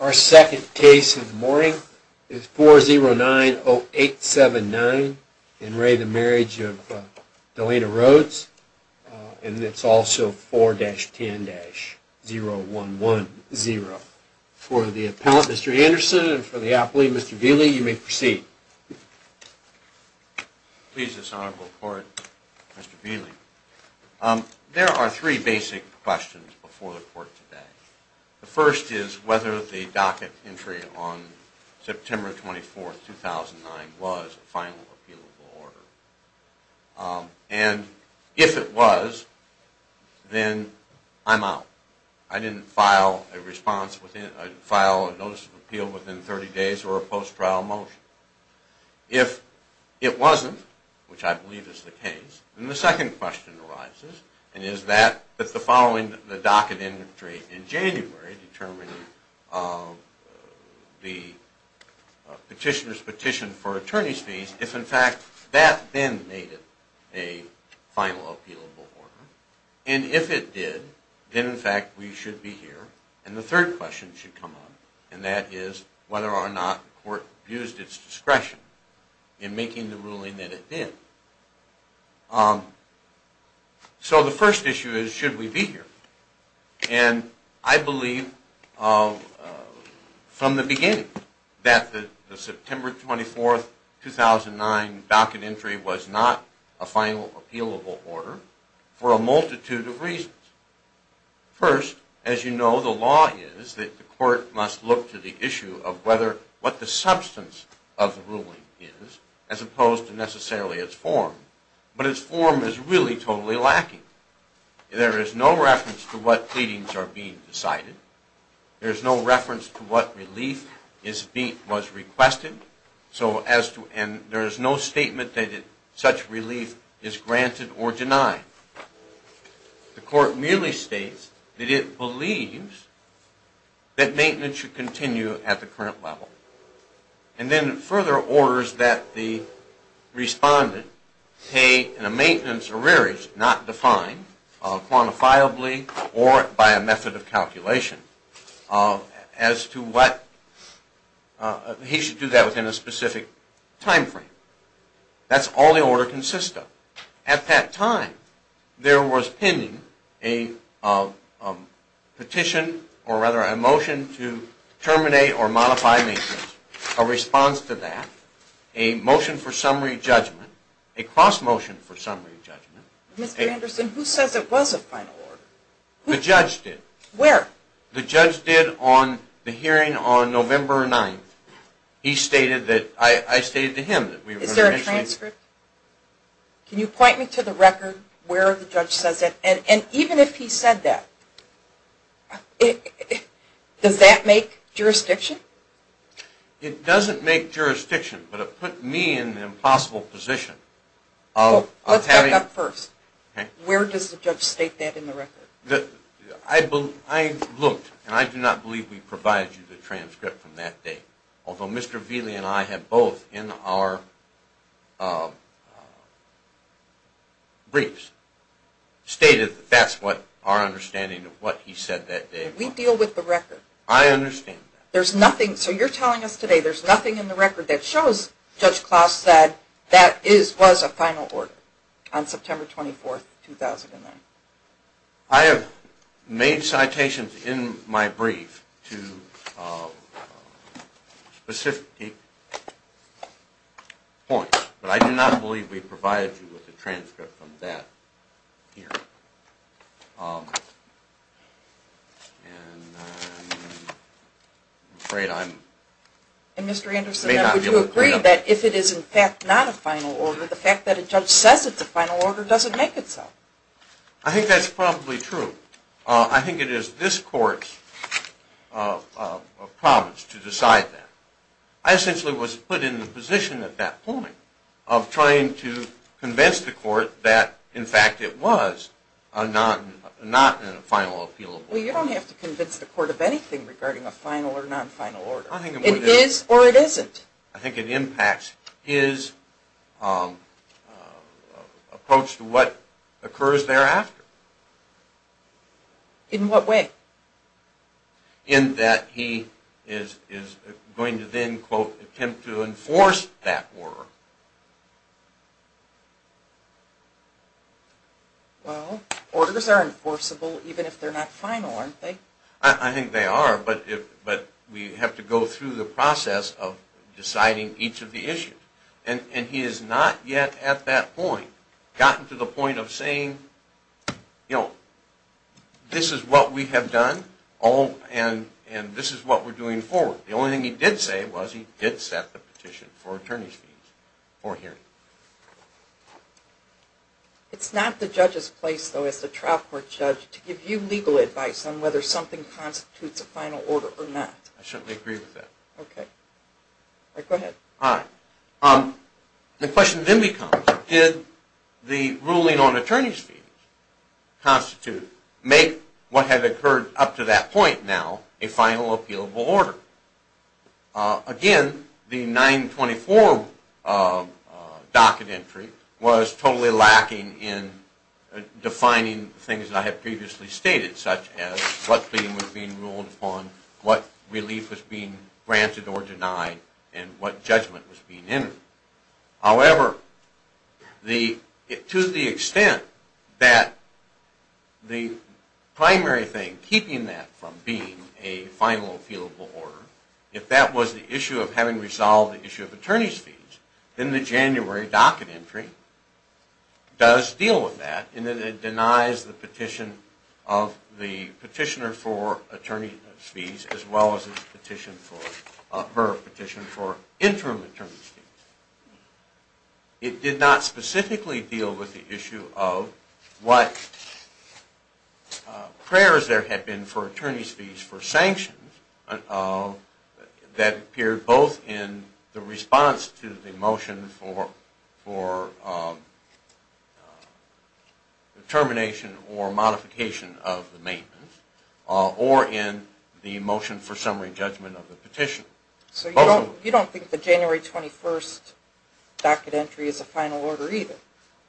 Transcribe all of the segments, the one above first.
Our second case of the morning is 4090879 in re the Marriage of Delana Rhodes and it's also 4-10-0110. For the appellant Mr. Anderson and for the appellee Mr. Vealey you may proceed. Please this honorable court, Mr. Vealey. There are three basic questions before the court today. The first is whether the docket entry on September 24, 2009 was a final appealable order. And if it was, then I'm out. I didn't file a notice of appeal within 30 days or a post-trial motion. If it wasn't, which I believe is the case, then the second question arises. And is that that the following the docket entry in January determined the petitioner's petition for attorney's fees, if in fact that then made it a final appealable order. And if it did, then in fact we should be here. And the third question should come up and that is whether or not the court used its discretion in making the ruling that it did. So the first issue is should we be here. And I believe from the beginning that the September 24, 2009 docket entry was not a final appealable order for a multitude of reasons. First, as you know, the law is that the court must look to the issue of what the substance of the ruling is as opposed to necessarily its form. But its form is really totally lacking. There is no reference to what pleadings are being decided. There is no reference to what relief was requested. And there is no statement that such relief is granted or denied. The court merely states that it believes that maintenance should continue at the current level. And then further orders that the respondent pay in a maintenance or rearage not defined quantifiably or by a method of calculation as to what he should do that within a specific time frame. That's all the order consists of. At that time there was pending a petition or rather a motion to terminate or modify maintenance. A response to that, a motion for summary judgment, a cross motion for summary judgment. Mr. Anderson, who says it was a final order? The judge did. Where? The judge did on the hearing on November 9th. I stated to him. Is there a transcript? Can you point me to the record where the judge says that? And even if he said that, does that make jurisdiction? It doesn't make jurisdiction, but it put me in an impossible position. Let's back up first. Where does the judge state that in the record? I looked and I do not believe we provided you the transcript from that day. Although Mr. Vealey and I have both in our briefs stated that's what our understanding of what he said that day. We deal with the record. I understand that. There's nothing, so you're telling us today there's nothing in the record that shows Judge Klaus said that was a final order on September 24th, 2009. I have made citations in my brief to specific points, but I do not believe we provided you with a transcript from that hearing. And Mr. Anderson, would you agree that if it is in fact not a final order, the fact that a judge says it's a final order doesn't make it so? I think that's probably true. I think it is this court's promise to decide that. I essentially was put in the position at that point of trying to convince the court that in fact it was not a final appeal. Well, you don't have to convince the court of anything regarding a final or non-final order. It is or it isn't. I think it impacts his approach to what occurs thereafter. In what way? In that he is going to then, quote, attempt to enforce that order. Well, orders are enforceable even if they're not final, aren't they? I think they are, but we have to go through the process of deciding each of the issues. And he has not yet at that point gotten to the point of saying, you know, this is what we have done and this is what we're doing forward. The only thing he did say was he did set the petition for attorney's fees for hearing. It's not the judge's place, though, as the trial court judge, to give you legal advice on whether something constitutes a final order or not. I certainly agree with that. Okay. All right, go ahead. All right. The question then becomes did the ruling on attorney's fees constitute, make what had occurred up to that point now a final appealable order? Again, the 924 docket entry was totally lacking in defining things that I had previously stated, such as what claim was being ruled upon, what relief was being granted or denied, and what judgment was being entered. However, to the extent that the primary thing keeping that from being a final appealable order, if that was the issue of having resolved the issue of attorney's fees, then the January docket entry does deal with that and then it denies the petition of the petitioner for attorney's fees as well as the petition for interim attorney's fees. It did not specifically deal with the issue of what prayers there had been for attorney's fees for sanctions that appeared both in the response to the motion for termination or modification of the maintenance or in the motion for summary judgment of the petition. So you don't think the January 21 docket entry is a final order either?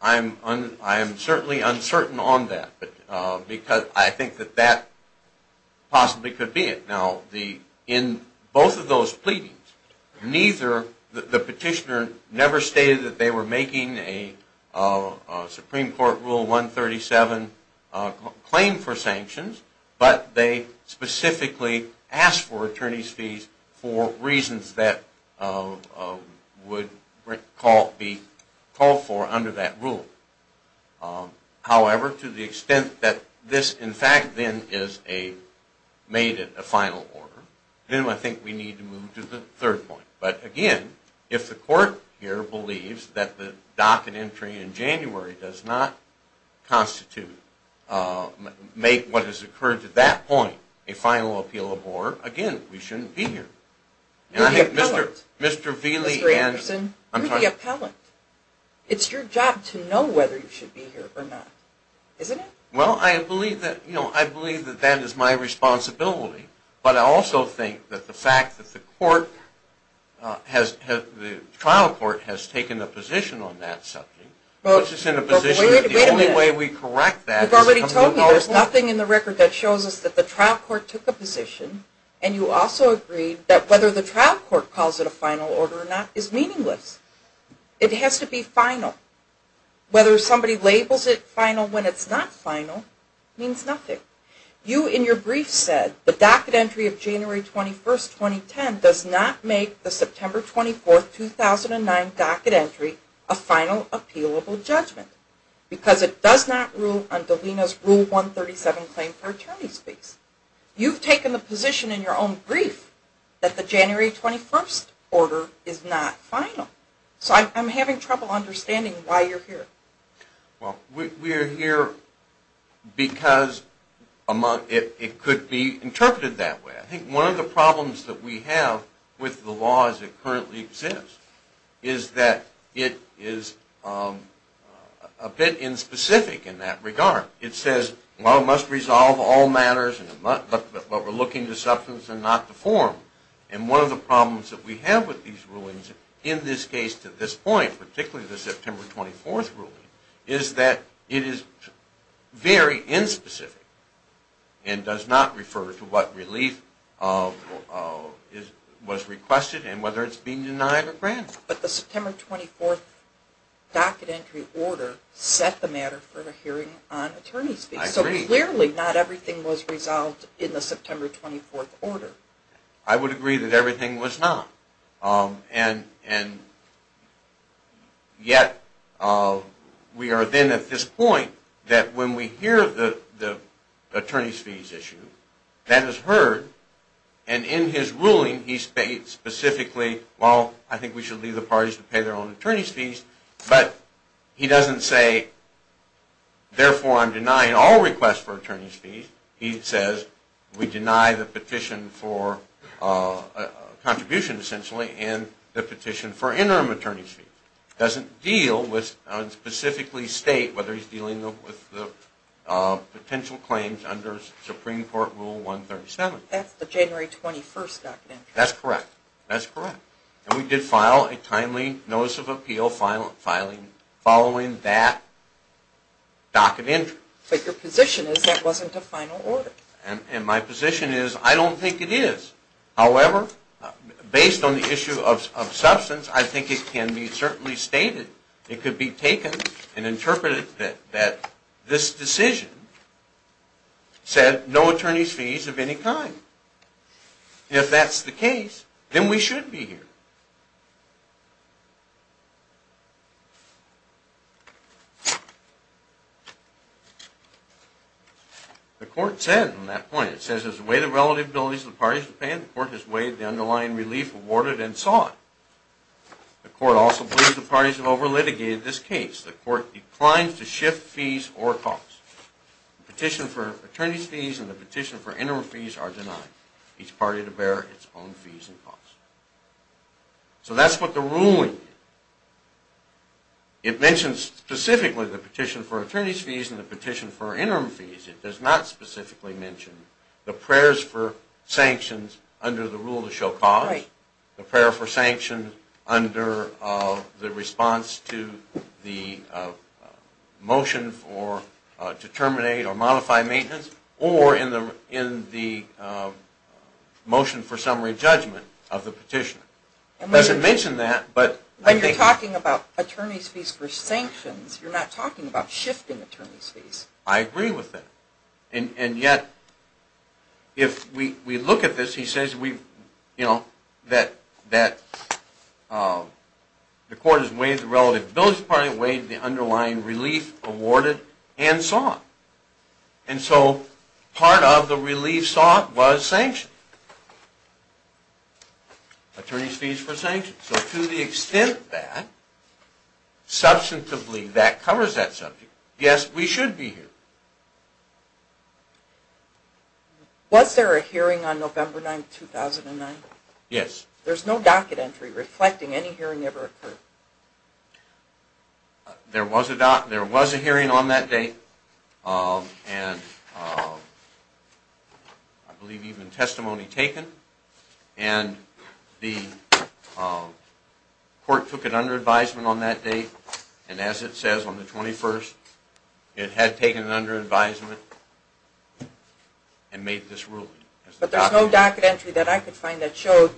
I am certainly uncertain on that because I think that that possibly could be it. Now, in both of those pleadings, the petitioner never stated that they were making a Supreme Court Rule 137 claim for sanctions, but they specifically asked for attorney's fees for reasons that would be called for under that rule. However, to the extent that this in fact then is a final order, then I think we need to move to the third point. But again, if the court here believes that the docket entry in January does not constitute, make what has occurred to that point, a final appeal of more, again, we shouldn't be here. Mr. Anderson, you're the appellant. It's your job to know whether you should be here or not, isn't it? Well, I believe that that is my responsibility. But I also think that the fact that the trial court has taken a position on that subject, which is in a position that the only way we correct that is to move forward. You've already told me there's nothing in the record that shows us that the trial court took a position, and you also agreed that whether the trial court calls it a final order or not is meaningless. It has to be final. Whether somebody labels it final when it's not final means nothing. You, in your brief, said the docket entry of January 21, 2010 does not make the September 24, 2009 docket entry a final appealable judgment. Because it does not rule under DELENA's Rule 137 claim for attorney's fees. You've taken the position in your own brief that the January 21st order is not final. So I'm having trouble understanding why you're here. Well, we're here because it could be interpreted that way. I think one of the problems that we have with the law as it currently exists is that it is a bit inspecific in that regard. It says, well, it must resolve all matters, but we're looking to substance and not to form. And one of the problems that we have with these rulings in this case to this point, particularly the September 24th ruling, is that it is very inspecific and does not refer to what relief was requested and whether it's been denied or granted. But the September 24th docket entry order set the matter for a hearing on attorney's fees. I agree. So clearly not everything was resolved in the September 24th order. I would agree that everything was not. And yet we are then at this point that when we hear the attorney's fees issue, that is heard. And in his ruling, he states specifically, well, I think we should leave the parties to pay their own attorney's fees. But he doesn't say, therefore, I'm denying all requests for attorney's fees. He says we deny the petition for contribution, essentially, and the petition for interim attorney's fees. He doesn't deal with, specifically state, whether he's dealing with the potential claims under Supreme Court Rule 137. That's the January 21st docket entry. That's correct. That's correct. And we did file a timely notice of appeal following that docket entry. But your position is that wasn't a final order. And my position is I don't think it is. However, based on the issue of substance, I think it can be certainly stated. It could be taken and interpreted that this decision said no attorney's fees of any kind. If that's the case, then we should be here. The court said on that point, it says as a way to relative abilities of the parties to pay, the court has weighed the underlying relief awarded and sought. The court also believes the parties have over-litigated this case. The court declines to shift fees or costs. The petition for attorney's fees and the petition for interim fees are denied. Each party to bear its own fees and costs. So that's what the ruling did. It mentions specifically the petition for attorney's fees and the petition for interim fees. It does not specifically mention the prayers for sanctions under the rule to show cause, the prayer for sanctions under the response to the motion to terminate or modify maintenance, or in the motion for summary judgment of the petition. It doesn't mention that. When you're talking about attorney's fees for sanctions, you're not talking about shifting attorney's fees. I agree with that. And yet, if we look at this, he says that the court has weighed the relative abilities of the party, weighed the underlying relief awarded, and sought. And so part of the relief sought was sanctions. Attorney's fees for sanctions. So to the extent that substantively that covers that subject, yes, we should be here. Was there a hearing on November 9, 2009? Yes. There's no docket entry reflecting any hearing ever occurred. There was a hearing on that day, and I believe even testimony taken. And the court took it under advisement on that day, and as it says on the 21st, it had taken it under advisement and made this ruling. But there's no docket entry that I could find that showed.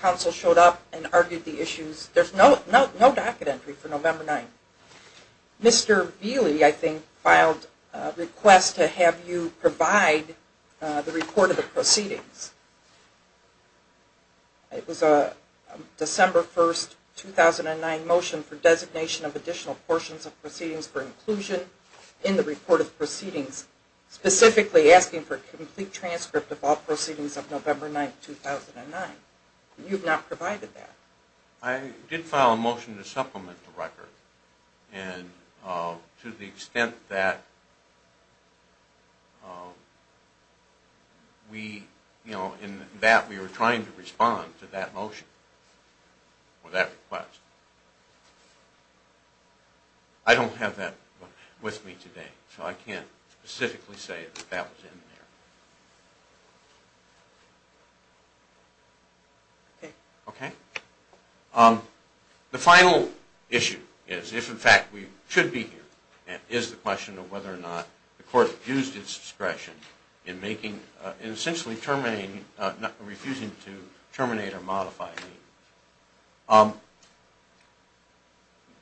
Counsel showed up and argued the issues. There's no docket entry for November 9. Mr. Vealey, I think, filed a request to have you provide the report of the proceedings. It was a December 1, 2009 motion for designation of additional portions of proceedings for inclusion in the report of proceedings, specifically asking for a complete transcript of all proceedings of November 9, 2009. You've not provided that. I did file a motion to supplement the record. And to the extent that we were trying to respond to that motion or that request. I don't have that with me today, so I can't specifically say that that was in there. Okay. The final issue is, if in fact we should be here, and is the question of whether or not the court used its discretion in essentially refusing to terminate or modify the hearing.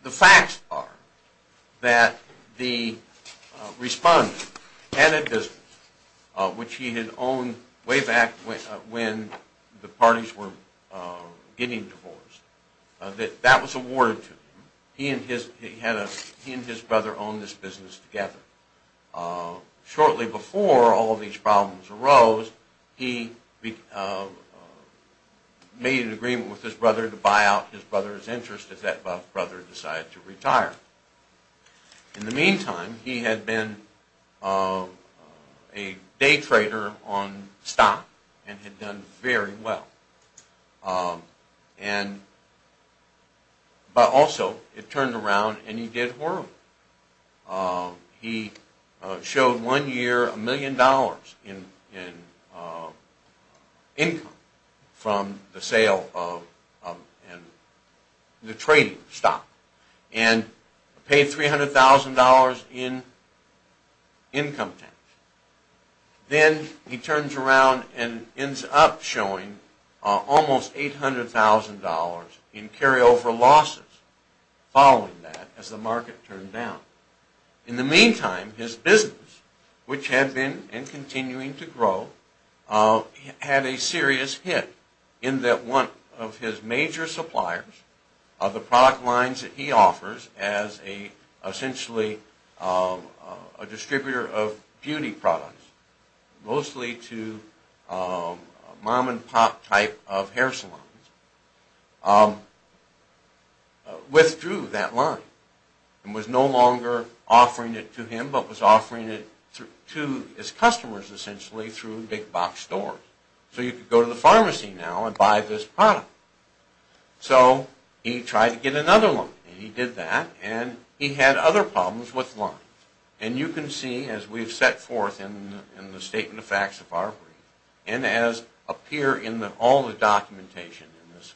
The facts are that the respondent had a business, which he had owned way back when the parties were getting divorced. That was awarded to him. He and his brother owned this business together. Shortly before all of these problems arose, he made an agreement with his brother to buy out his brother's interest if that brother decided to retire. In the meantime, he had been a day trader on stock and had done very well. But also, it turned around and he did horrible. He showed one year a million dollars in income from the sale of the trading stock. And paid $300,000 in income tax. Then he turns around and ends up showing almost $800,000 in carryover losses following that as the market turns around. In the meantime, his business, which had been and continuing to grow, had a serious hit in that one of his major suppliers, the product lines that he offers as essentially a distributor of beauty products, mostly to mom and pop type of hair salons, withdrew that line. And was no longer offering it to him, but was offering it to his customers essentially through big box stores. So you could go to the pharmacy now and buy this product. So he tried to get another line. And he did that and he had other problems with lines. And you can see, as we've set forth in the Statement of Facts of Arbery, and as appear in all the documentation in this,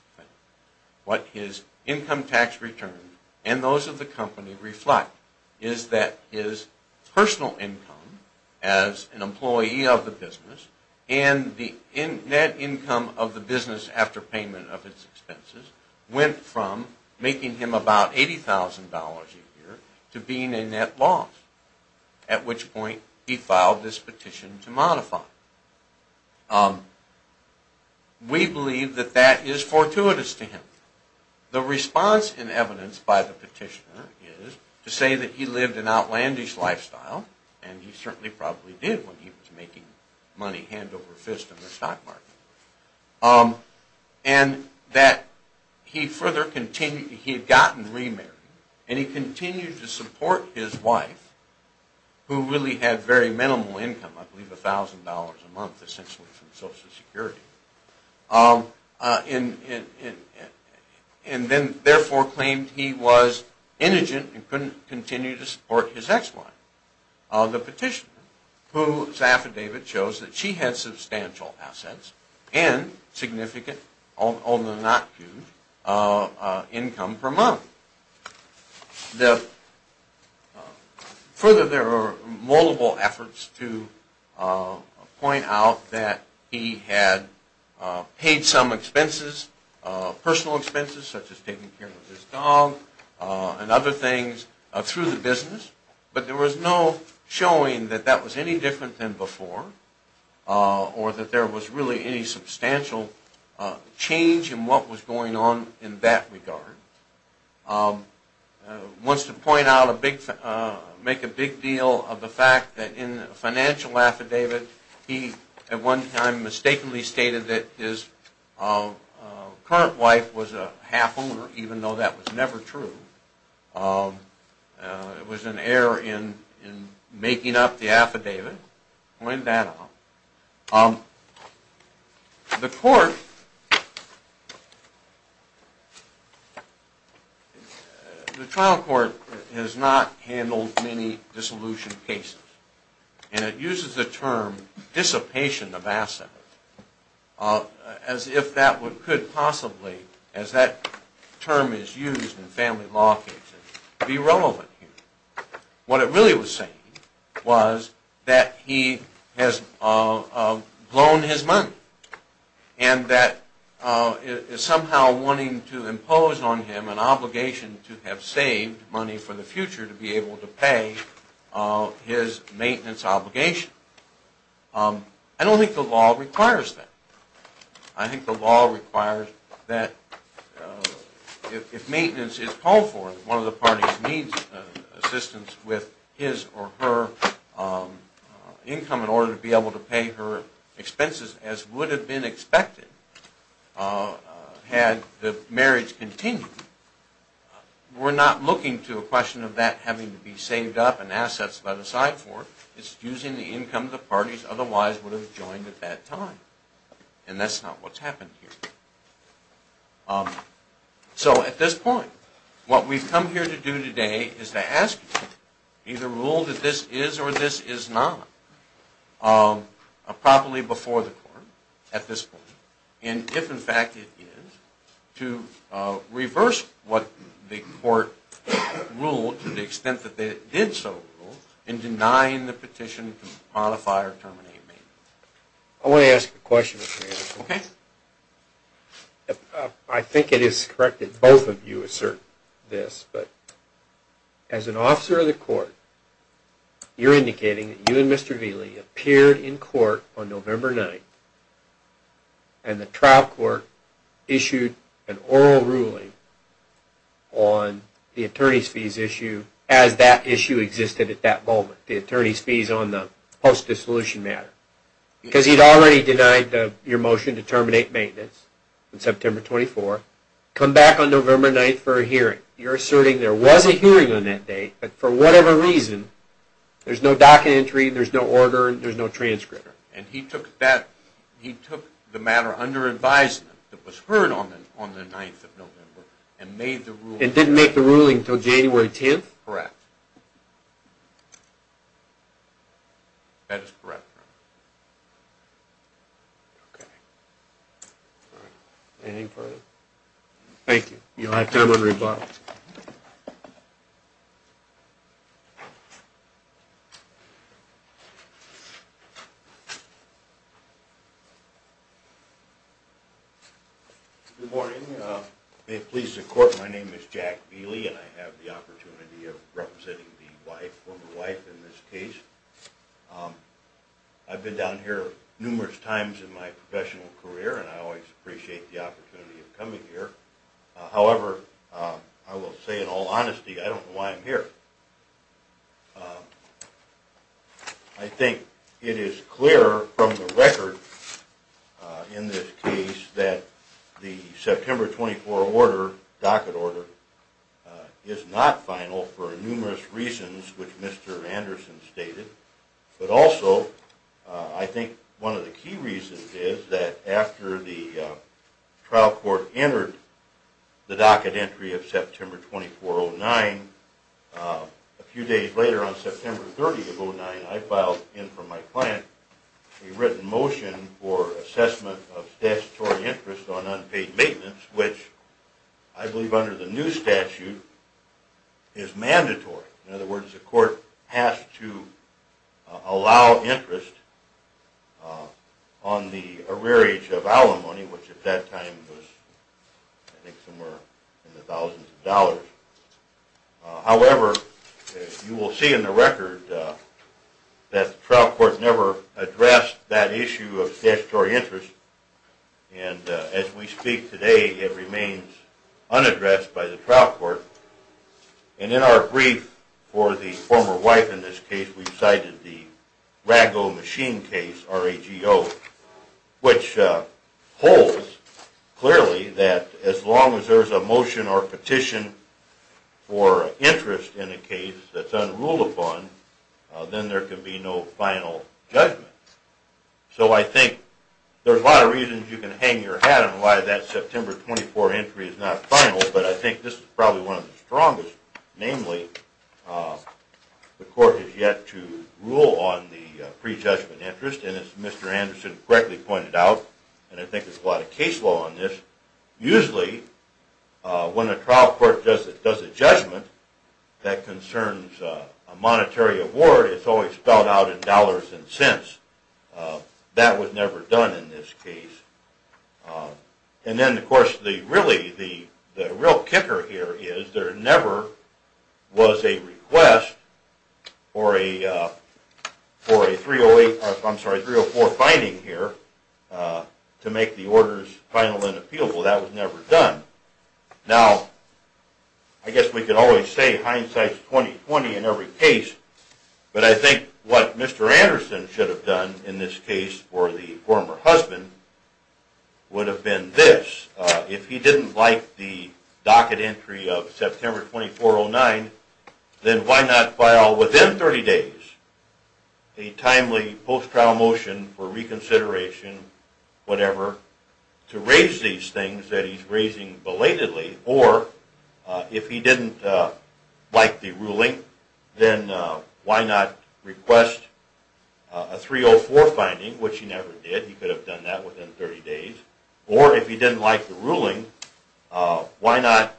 what his income tax return and those of the company reflect is that his personal income as an employee of the business and the net income of the business after payment of his expenses went from making him about $80,000 a year to being a net loss. At which point he filed this petition to modify. We believe that that is fortuitous to him. The response in evidence by the petitioner is to say that he lived an outlandish lifestyle, and he certainly probably did when he was making money hand over fist in the stock market, and that he had gotten remarried and he continued to support his wife, who really had very minimal income, I believe $1,000 a month essentially from Social Security. And then therefore claimed he was indigent and couldn't continue to support his ex-wife. The petitioner, whose affidavit shows that she had substantial assets and significant, although not huge, income per month. Further, there were multiple efforts to point out that he had paid some expenses, personal expenses such as taking care of his dog and other things through the business, but there was no showing that that was any different than before, or that there was really any substantial change in what was going on in that regard. He wants to make a big deal of the fact that in a financial affidavit, he at one time mistakenly stated that his current wife was a half owner, even though that was never true. It was an error in making up the affidavit. Point that out. The trial court has not handled many dissolution cases, and it uses the term dissipation of assets as if that could possibly, as that term is used in family law cases, be relevant here. What it really was saying was that he has blown his money, and that somehow wanting to impose on him an obligation to have saved money for the future, to be able to pay his maintenance obligation. I don't think the law requires that. I think the law requires that if maintenance is called for, one of the parties needs assistance with his or her income in order to be able to pay her expenses, as would have been expected had the marriage continued. We're not looking to a question of that having to be saved up and assets let aside for it. It's using the income the parties otherwise would have joined at that time, and that's not what's happened here. So at this point, what we've come here to do today is to ask you, either rule that this is or this is not, properly before the court at this point, and if in fact it is, to reverse what the court ruled to the extent that it did so, in denying the petition to modify or terminate maintenance. I want to ask a question. I think it is correct that both of you assert this, but as an officer of the court, you're indicating that you and Mr. Vealey appeared in court on November 9th, and the trial court issued an oral ruling on the attorney's fees issue, as that issue existed at that moment, the attorney's fees on the post-dissolution matter. Because he'd already denied your motion to terminate maintenance on September 24th, come back on November 9th for a hearing. You're asserting there was a hearing on that date, but for whatever reason, there's no docket entry, there's no order, there's no transcript. And he took the matter under advisement that was heard on the 9th of November and made the ruling. And didn't make the ruling until January 10th? That is correct. Anything further? Thank you. You'll have time to rebut. Good morning. May it please the court, my name is Jack Vealey and I have the opportunity of representing the wife, former wife in this case. I've been down here numerous times in my professional career, and I always appreciate the opportunity of coming here. However, I will say in all honesty, I don't know why I'm here. I think it is clear from the record in this case that the September 24 order, docket order, is not final for numerous reasons, which Mr. Anderson stated. But also, I think one of the key reasons is that after the trial court entered the docket entry of September 24, 2009, a few days later on September 30, 2009, I filed in for my client a written motion for assessment of statutory interest on unpaid maintenance, which I believe under the new statute is mandatory. In other words, the court has to allow interest on the arrearage of alimony, which at that time was somewhere in the thousands of dollars. However, you will see in the record that the trial court never addressed that issue of statutory interest, and as we speak today, it remains unaddressed by the trial court. And in our brief for the former wife in this case, we cited the Rago machine case, RAGO, which holds clearly that as long as there is a motion or petition for interest in a case that is unruled upon, then there can be no final judgment. So I think there are a lot of reasons you can hang your hat on why that September 24 entry is not final, but I think this is probably one of the strongest. Namely, the court has yet to rule on the prejudgment interest, and as Mr. Anderson correctly pointed out, and I think there's a lot of case law on this, usually when a trial court does a judgment that concerns a monetary award, it's always spelled out in dollars and cents. That was never done in this case. And then, of course, the real kicker here is there never was a request for a 304 finding here to make the orders final and appealable. That was never done. Now, I guess we could always say hindsight's 20-20 in every case, but I think what Mr. Anderson should have done in this case for the former husband would have been this. If he didn't like the docket entry of September 2409, then why not file within 30 days a timely post-trial motion for reconsideration, whatever, to raise these things that he's raising belatedly? Or, if he didn't like the ruling, then why not request a 304 finding, which he never did. He could have done that within 30 days. Or, if he didn't like the ruling, why not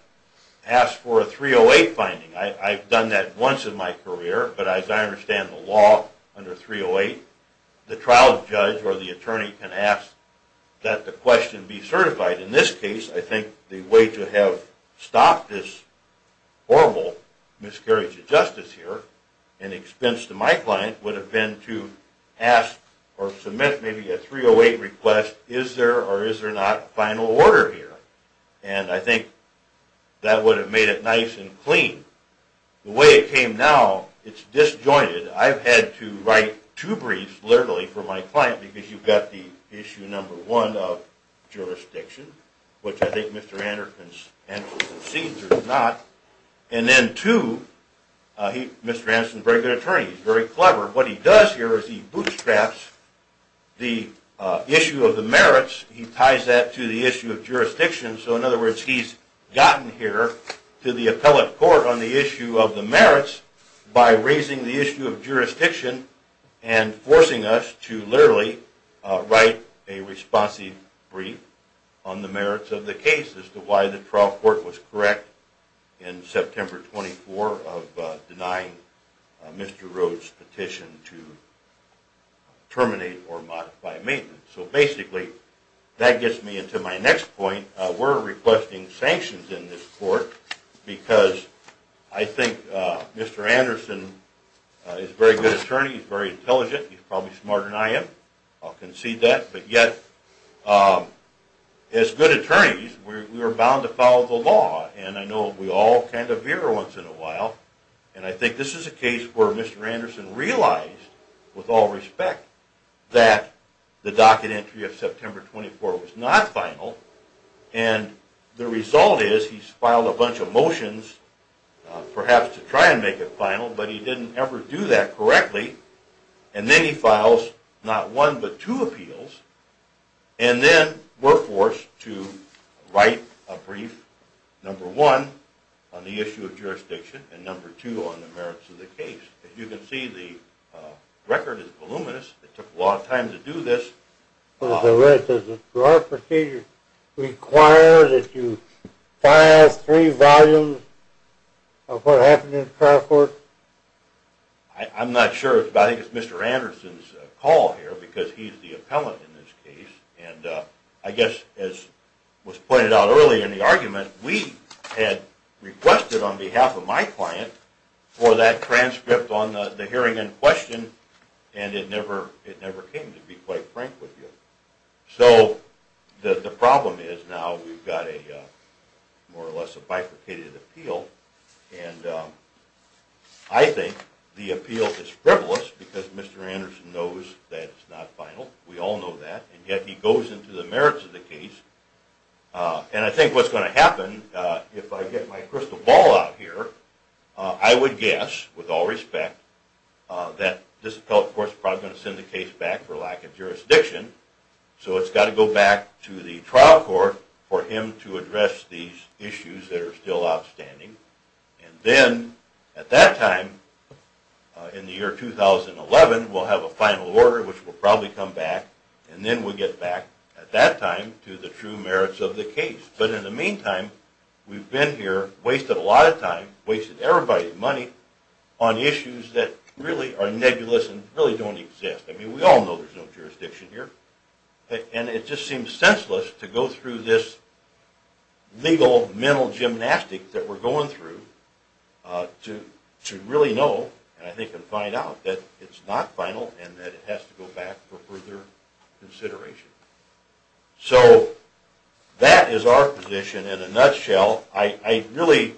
ask for a 308 finding? I've done that once in my career, but as I understand the law under 308, the trial judge or the attorney can ask that the question be certified. In this case, I think the way to have stopped this horrible miscarriage of justice here, and expense to my client, would have been to ask or submit maybe a 308 request, is there or is there not a final order here, and I think that would have made it nice and clean. The way it came now, it's disjointed. I've had to write two briefs, literally, for my client, because you've got the issue number one of jurisdiction, which I think Mr. Anderson concedes or does not, and then two, Mr. Anderson's a very good attorney, he's very clever, what he does here is he bootstraps the issue of the merits, he ties that to the issue of jurisdiction, so in other words, he's gotten here to the appellate court on the issue of the merits by raising the issue of jurisdiction and forcing us to literally write a responsive brief on the merits of the case as to why the trial court was correct in September 24 of denying Mr. Rhodes' petition to terminate or modify maintenance. So basically, that gets me into my next point, we're requesting sanctions in this court because I think Mr. Anderson is a very good attorney, he's very intelligent, he's probably smarter than I am, I'll concede that, but yet, as good attorneys, we are bound to follow the law, and I know we all kind of veer once in a while, and I think this is a case where Mr. Anderson realized with all respect that the docket entry of September 24 was not final, and the result is he's filed a bunch of motions, perhaps to try and make it final, but he didn't ever do that correctly, and then he files not one, but two appeals, and then we're forced to write a brief, number one, on the issue of jurisdiction, and number two, on the merits of the case. As you can see, the record is voluminous, it took a lot of time to do this. Does the court procedure require that you file three volumes of what happened in the trial court? I'm not sure, but I think it's Mr. Anderson's call here, because he's the appellant in this case, and I guess, as was pointed out earlier in the argument, we had requested on behalf of my client for that transcript on the hearing in question, and it never came, to be quite frank with you. So the problem is now we've got a more or less a bifurcated appeal, and I think the appeal is frivolous, because Mr. Anderson knows that it's not final, we all know that, and yet he goes into the merits of the case, and I think what's going to happen, if I get my crystal ball out here, I would guess, with all respect, that this appellate court is probably going to send the case back for lack of jurisdiction, so it's got to go back to the trial court for him to address these issues that are still outstanding, and then at that time in the year 2011, we'll have a final order, which will probably come back, and then we'll get back at that time to the true merits of the case. But in the meantime, we've been here, wasted a lot of time, wasted everybody's money on issues that really are nebulous and really don't exist. I mean, we all know there's no jurisdiction here, and it just seems senseless to go through this legal mental gymnastics that we're going through to really know, and I think we can find out that it's not final and that it has to go back for further consideration. So that is our position in a nutshell. I really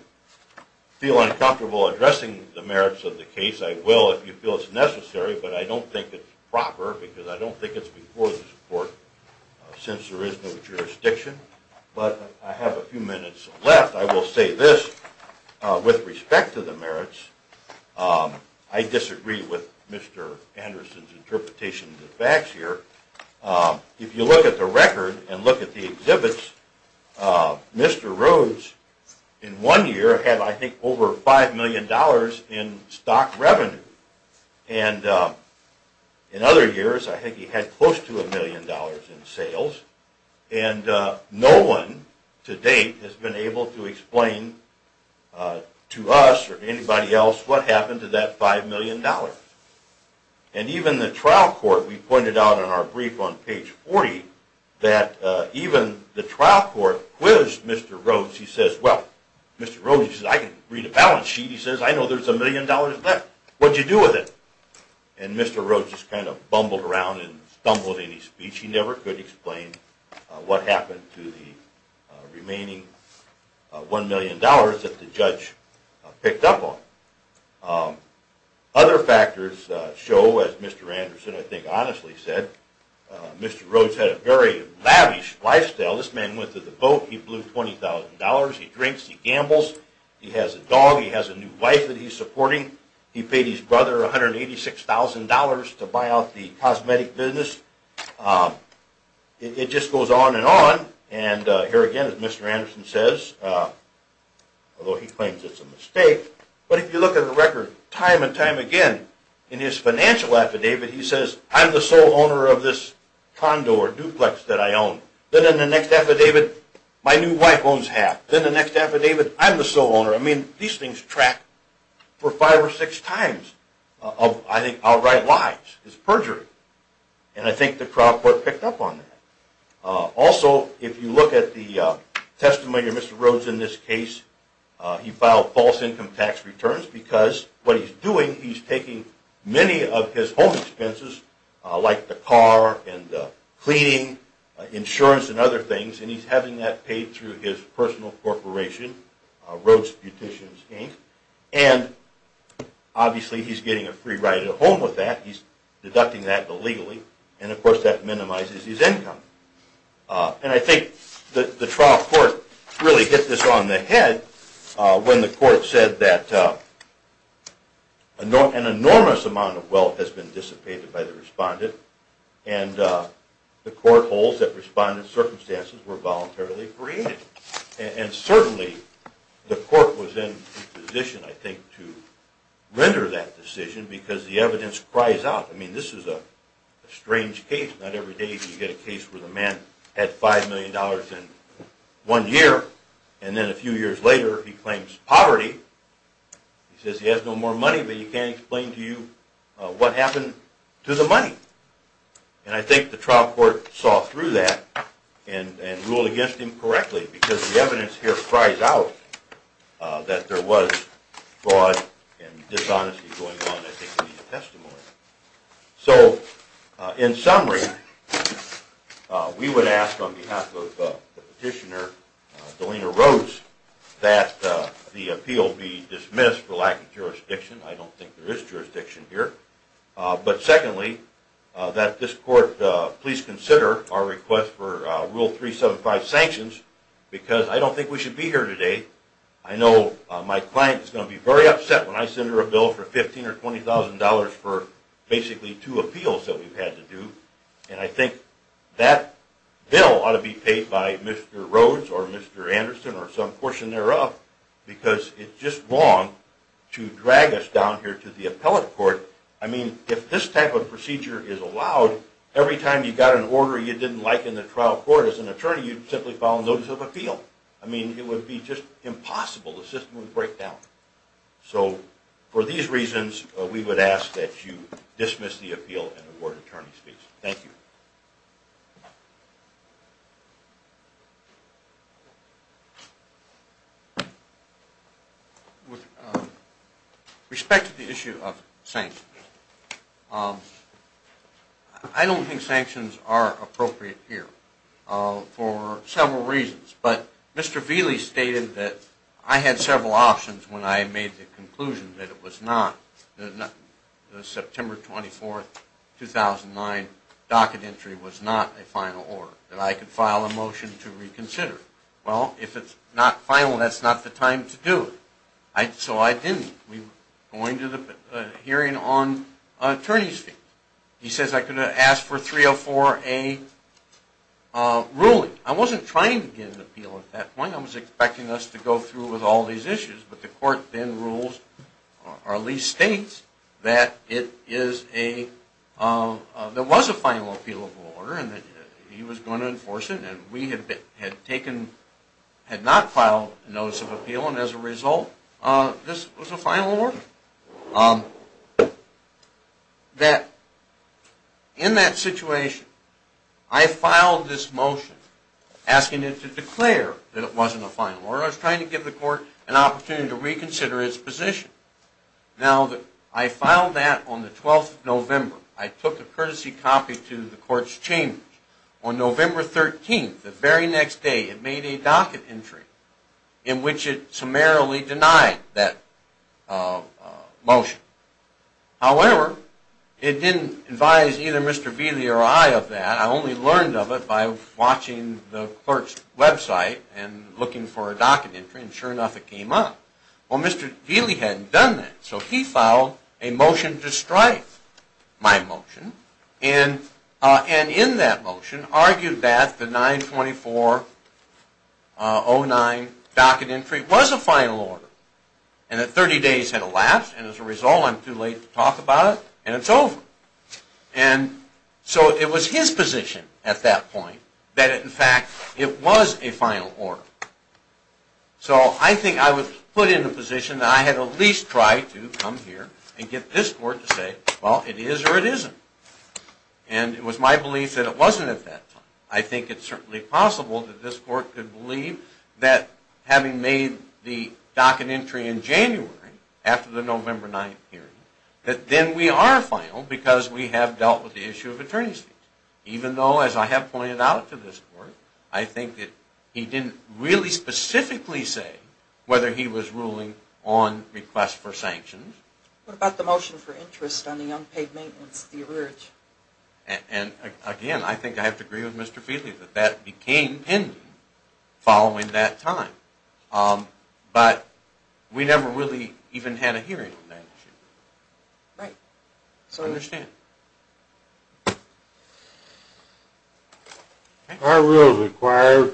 feel uncomfortable addressing the merits of the case. I will if you feel it's necessary, but I don't think it's proper because I don't think it's before the court since there is no jurisdiction. But I have a few I disagree with Mr. Anderson's interpretation of the facts here. If you look at the record and look at the exhibits, Mr. Rhodes in one year had I think over five million dollars in stock revenue. And in other years I think he had close to a million dollars in sales. And no one to date has been able to explain to us or anybody else what happened to that five million dollars. And even the trial court, we pointed out in our brief on page 40 that even the trial court quizzed Mr. Rhodes. He says, well, Mr. Rhodes says, I can read a balance sheet. He says, I know there's a million dollars left. What'd you do with it? And Mr. Rhodes just kind of bumbled around and stumbled in his speech. He never could explain what happened to the remaining one million dollars that the judge picked up on. Other factors show, as Mr. Anderson I think honestly said, Mr. Rhodes had a very lavish lifestyle. This man went to the boat, he blew $20,000, he drinks, he gambles, he has a dog, he has a new wife that he's supporting, he paid his brother $186,000 to buy out the cosmetic business. It just goes on and on. And here again as Mr. Anderson says, although he claims it's a mistake, but if you look at the record time and time again, in his financial affidavit he says, I'm the sole owner of this condo or duplex that I own. Then in the next affidavit, my new wife owns half. Then the next affidavit, I'm the sole owner. I mean, these things track for five or six times of I think outright lies. It's perjury. And I think the crowd court picked up on that. Also, if you look at the testimony of Mr. Rhodes in this case, he filed false income tax returns because what he's doing, he's taking many of his home expenses, like the car and cleaning, insurance and other things, and he's having that paid through his personal corporation, Rhodes Beauticians, Inc. And obviously he's getting a free ride home with that. He's deducting that illegally, and of course that minimizes his income. And I think the trial court really hit this on the head when the court said that an enormous amount of wealth has been dissipated by the respondent, and the court holds that respondent's circumstances were voluntarily created. And certainly the court was in a position, I think, to render that decision because the evidence cries out. I mean, this is a strange case. Not every day do you get a case where the man had $5 million in one year, and then a few years later he claims poverty. He says he has no more money, but he can't explain to you what happened to the money. And I think the trial court saw through that and ruled against him correctly because the evidence here cries out that there was fraud and dishonesty going on. I think we need a testimony. So, in summary, we would ask on behalf of Petitioner Delina Rhodes that the appeal be dismissed for lack of jurisdiction. I don't think there is jurisdiction here. But secondly, that this court please consider our request for Rule 375 sanctions because I don't think we should be here today. I know my client is going to be very upset when I send her a bill for $15,000 or $20,000 for basically two appeals that we've had to do. And I think that bill ought to be paid by Mr. Rhodes or Mr. Anderson or some portion thereof because it's just wrong to drag us down here to the appellate court. I mean, if this type of procedure is allowed, every time you got an order you didn't like in the trial court as an attorney, you'd simply file a notice of appeal. It would be just impossible. The system would break down. So, for these reasons, we would ask that you dismiss the appeal and award attorney's fees. Thank you. With respect to the issue of sanctions, I don't think sanctions are appropriate here for several reasons. But Mr. Vealey stated that I had several options when I made the conclusion that the September 24, 2009 docket entry was not a final order, that I could file a motion to reconsider. Well, if it's not final, that's not the time to do it. So I didn't. We were going to the hearing on attorney's fees. He says I could have asked for 304A ruling. I wasn't trying to get an appeal at that point. I was expecting us to go through with all these issues. But the court then rules, or at least states, that there was a final appeal of the order and that he was going to enforce it. And we had not filed a notice of appeal. And as a result, this was a final order. In that situation, I filed this motion asking it to declare that it wasn't a final order. I was trying to give the court an opportunity to reconsider its position. Now, I filed that on the 12th of November. I took a courtesy copy to the court's chambers. On November 13, the very next day, it made a docket entry in which it summarily denied that motion. However, it didn't advise either Mr. Vealey or I of that. I only learned of it by watching the court's website and looking for a docket entry. And sure enough, it came up. Well, Mr. Vealey hadn't done that. So he filed a motion to strife my motion. And in that motion argued that the 924-09 docket entry was a final order. And that 30 days had elapsed. And as a result, I'm too late to talk about it. And it's over. And so it was his position at that point that in fact it was a final order. So I think I was put in a position that I had at least tried to come here and get this court to say, well, it is or it isn't. And it was my belief that it wasn't at that time. I think it's certainly possible that this court could believe that having made the docket entry in January, after the November 9 hearing, that then we are final because we have dealt with the issue of attorney's fees. Even though, as I have pointed out to this court, I think that he didn't really specifically say whether he was ruling on request for sanctions. What about the motion for interest on the unpaid maintenance, the urge? And again, I think I have to agree with Mr. Vealey that that became pending following that time. But we never really even had a hearing on that issue. I will require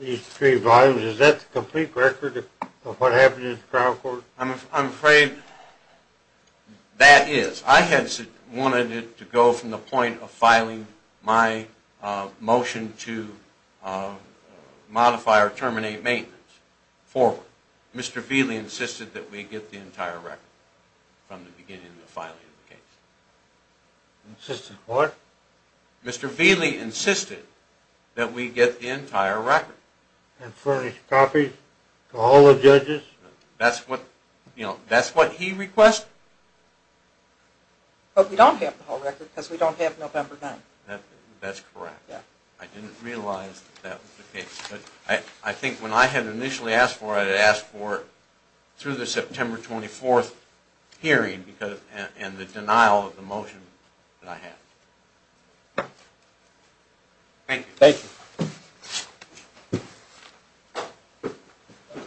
these three volumes. Is that the complete record of what happened in the trial court? I'm afraid that is. I wanted it to go from the point of filing my motion to modify or terminate maintenance forward. Mr. Vealey insisted that we get the entire record from the beginning of the filing of the case. Insisted what? Mr. Vealey insisted that we get the entire record. And furnish copies to all the judges? That's what he requested. But we don't have the whole record because we don't have November 9th. That's correct. I didn't realize that was the case. I think when I had initially asked for it, I had asked for it through the September 24th hearing and the denial of the motion that I had. Thank you.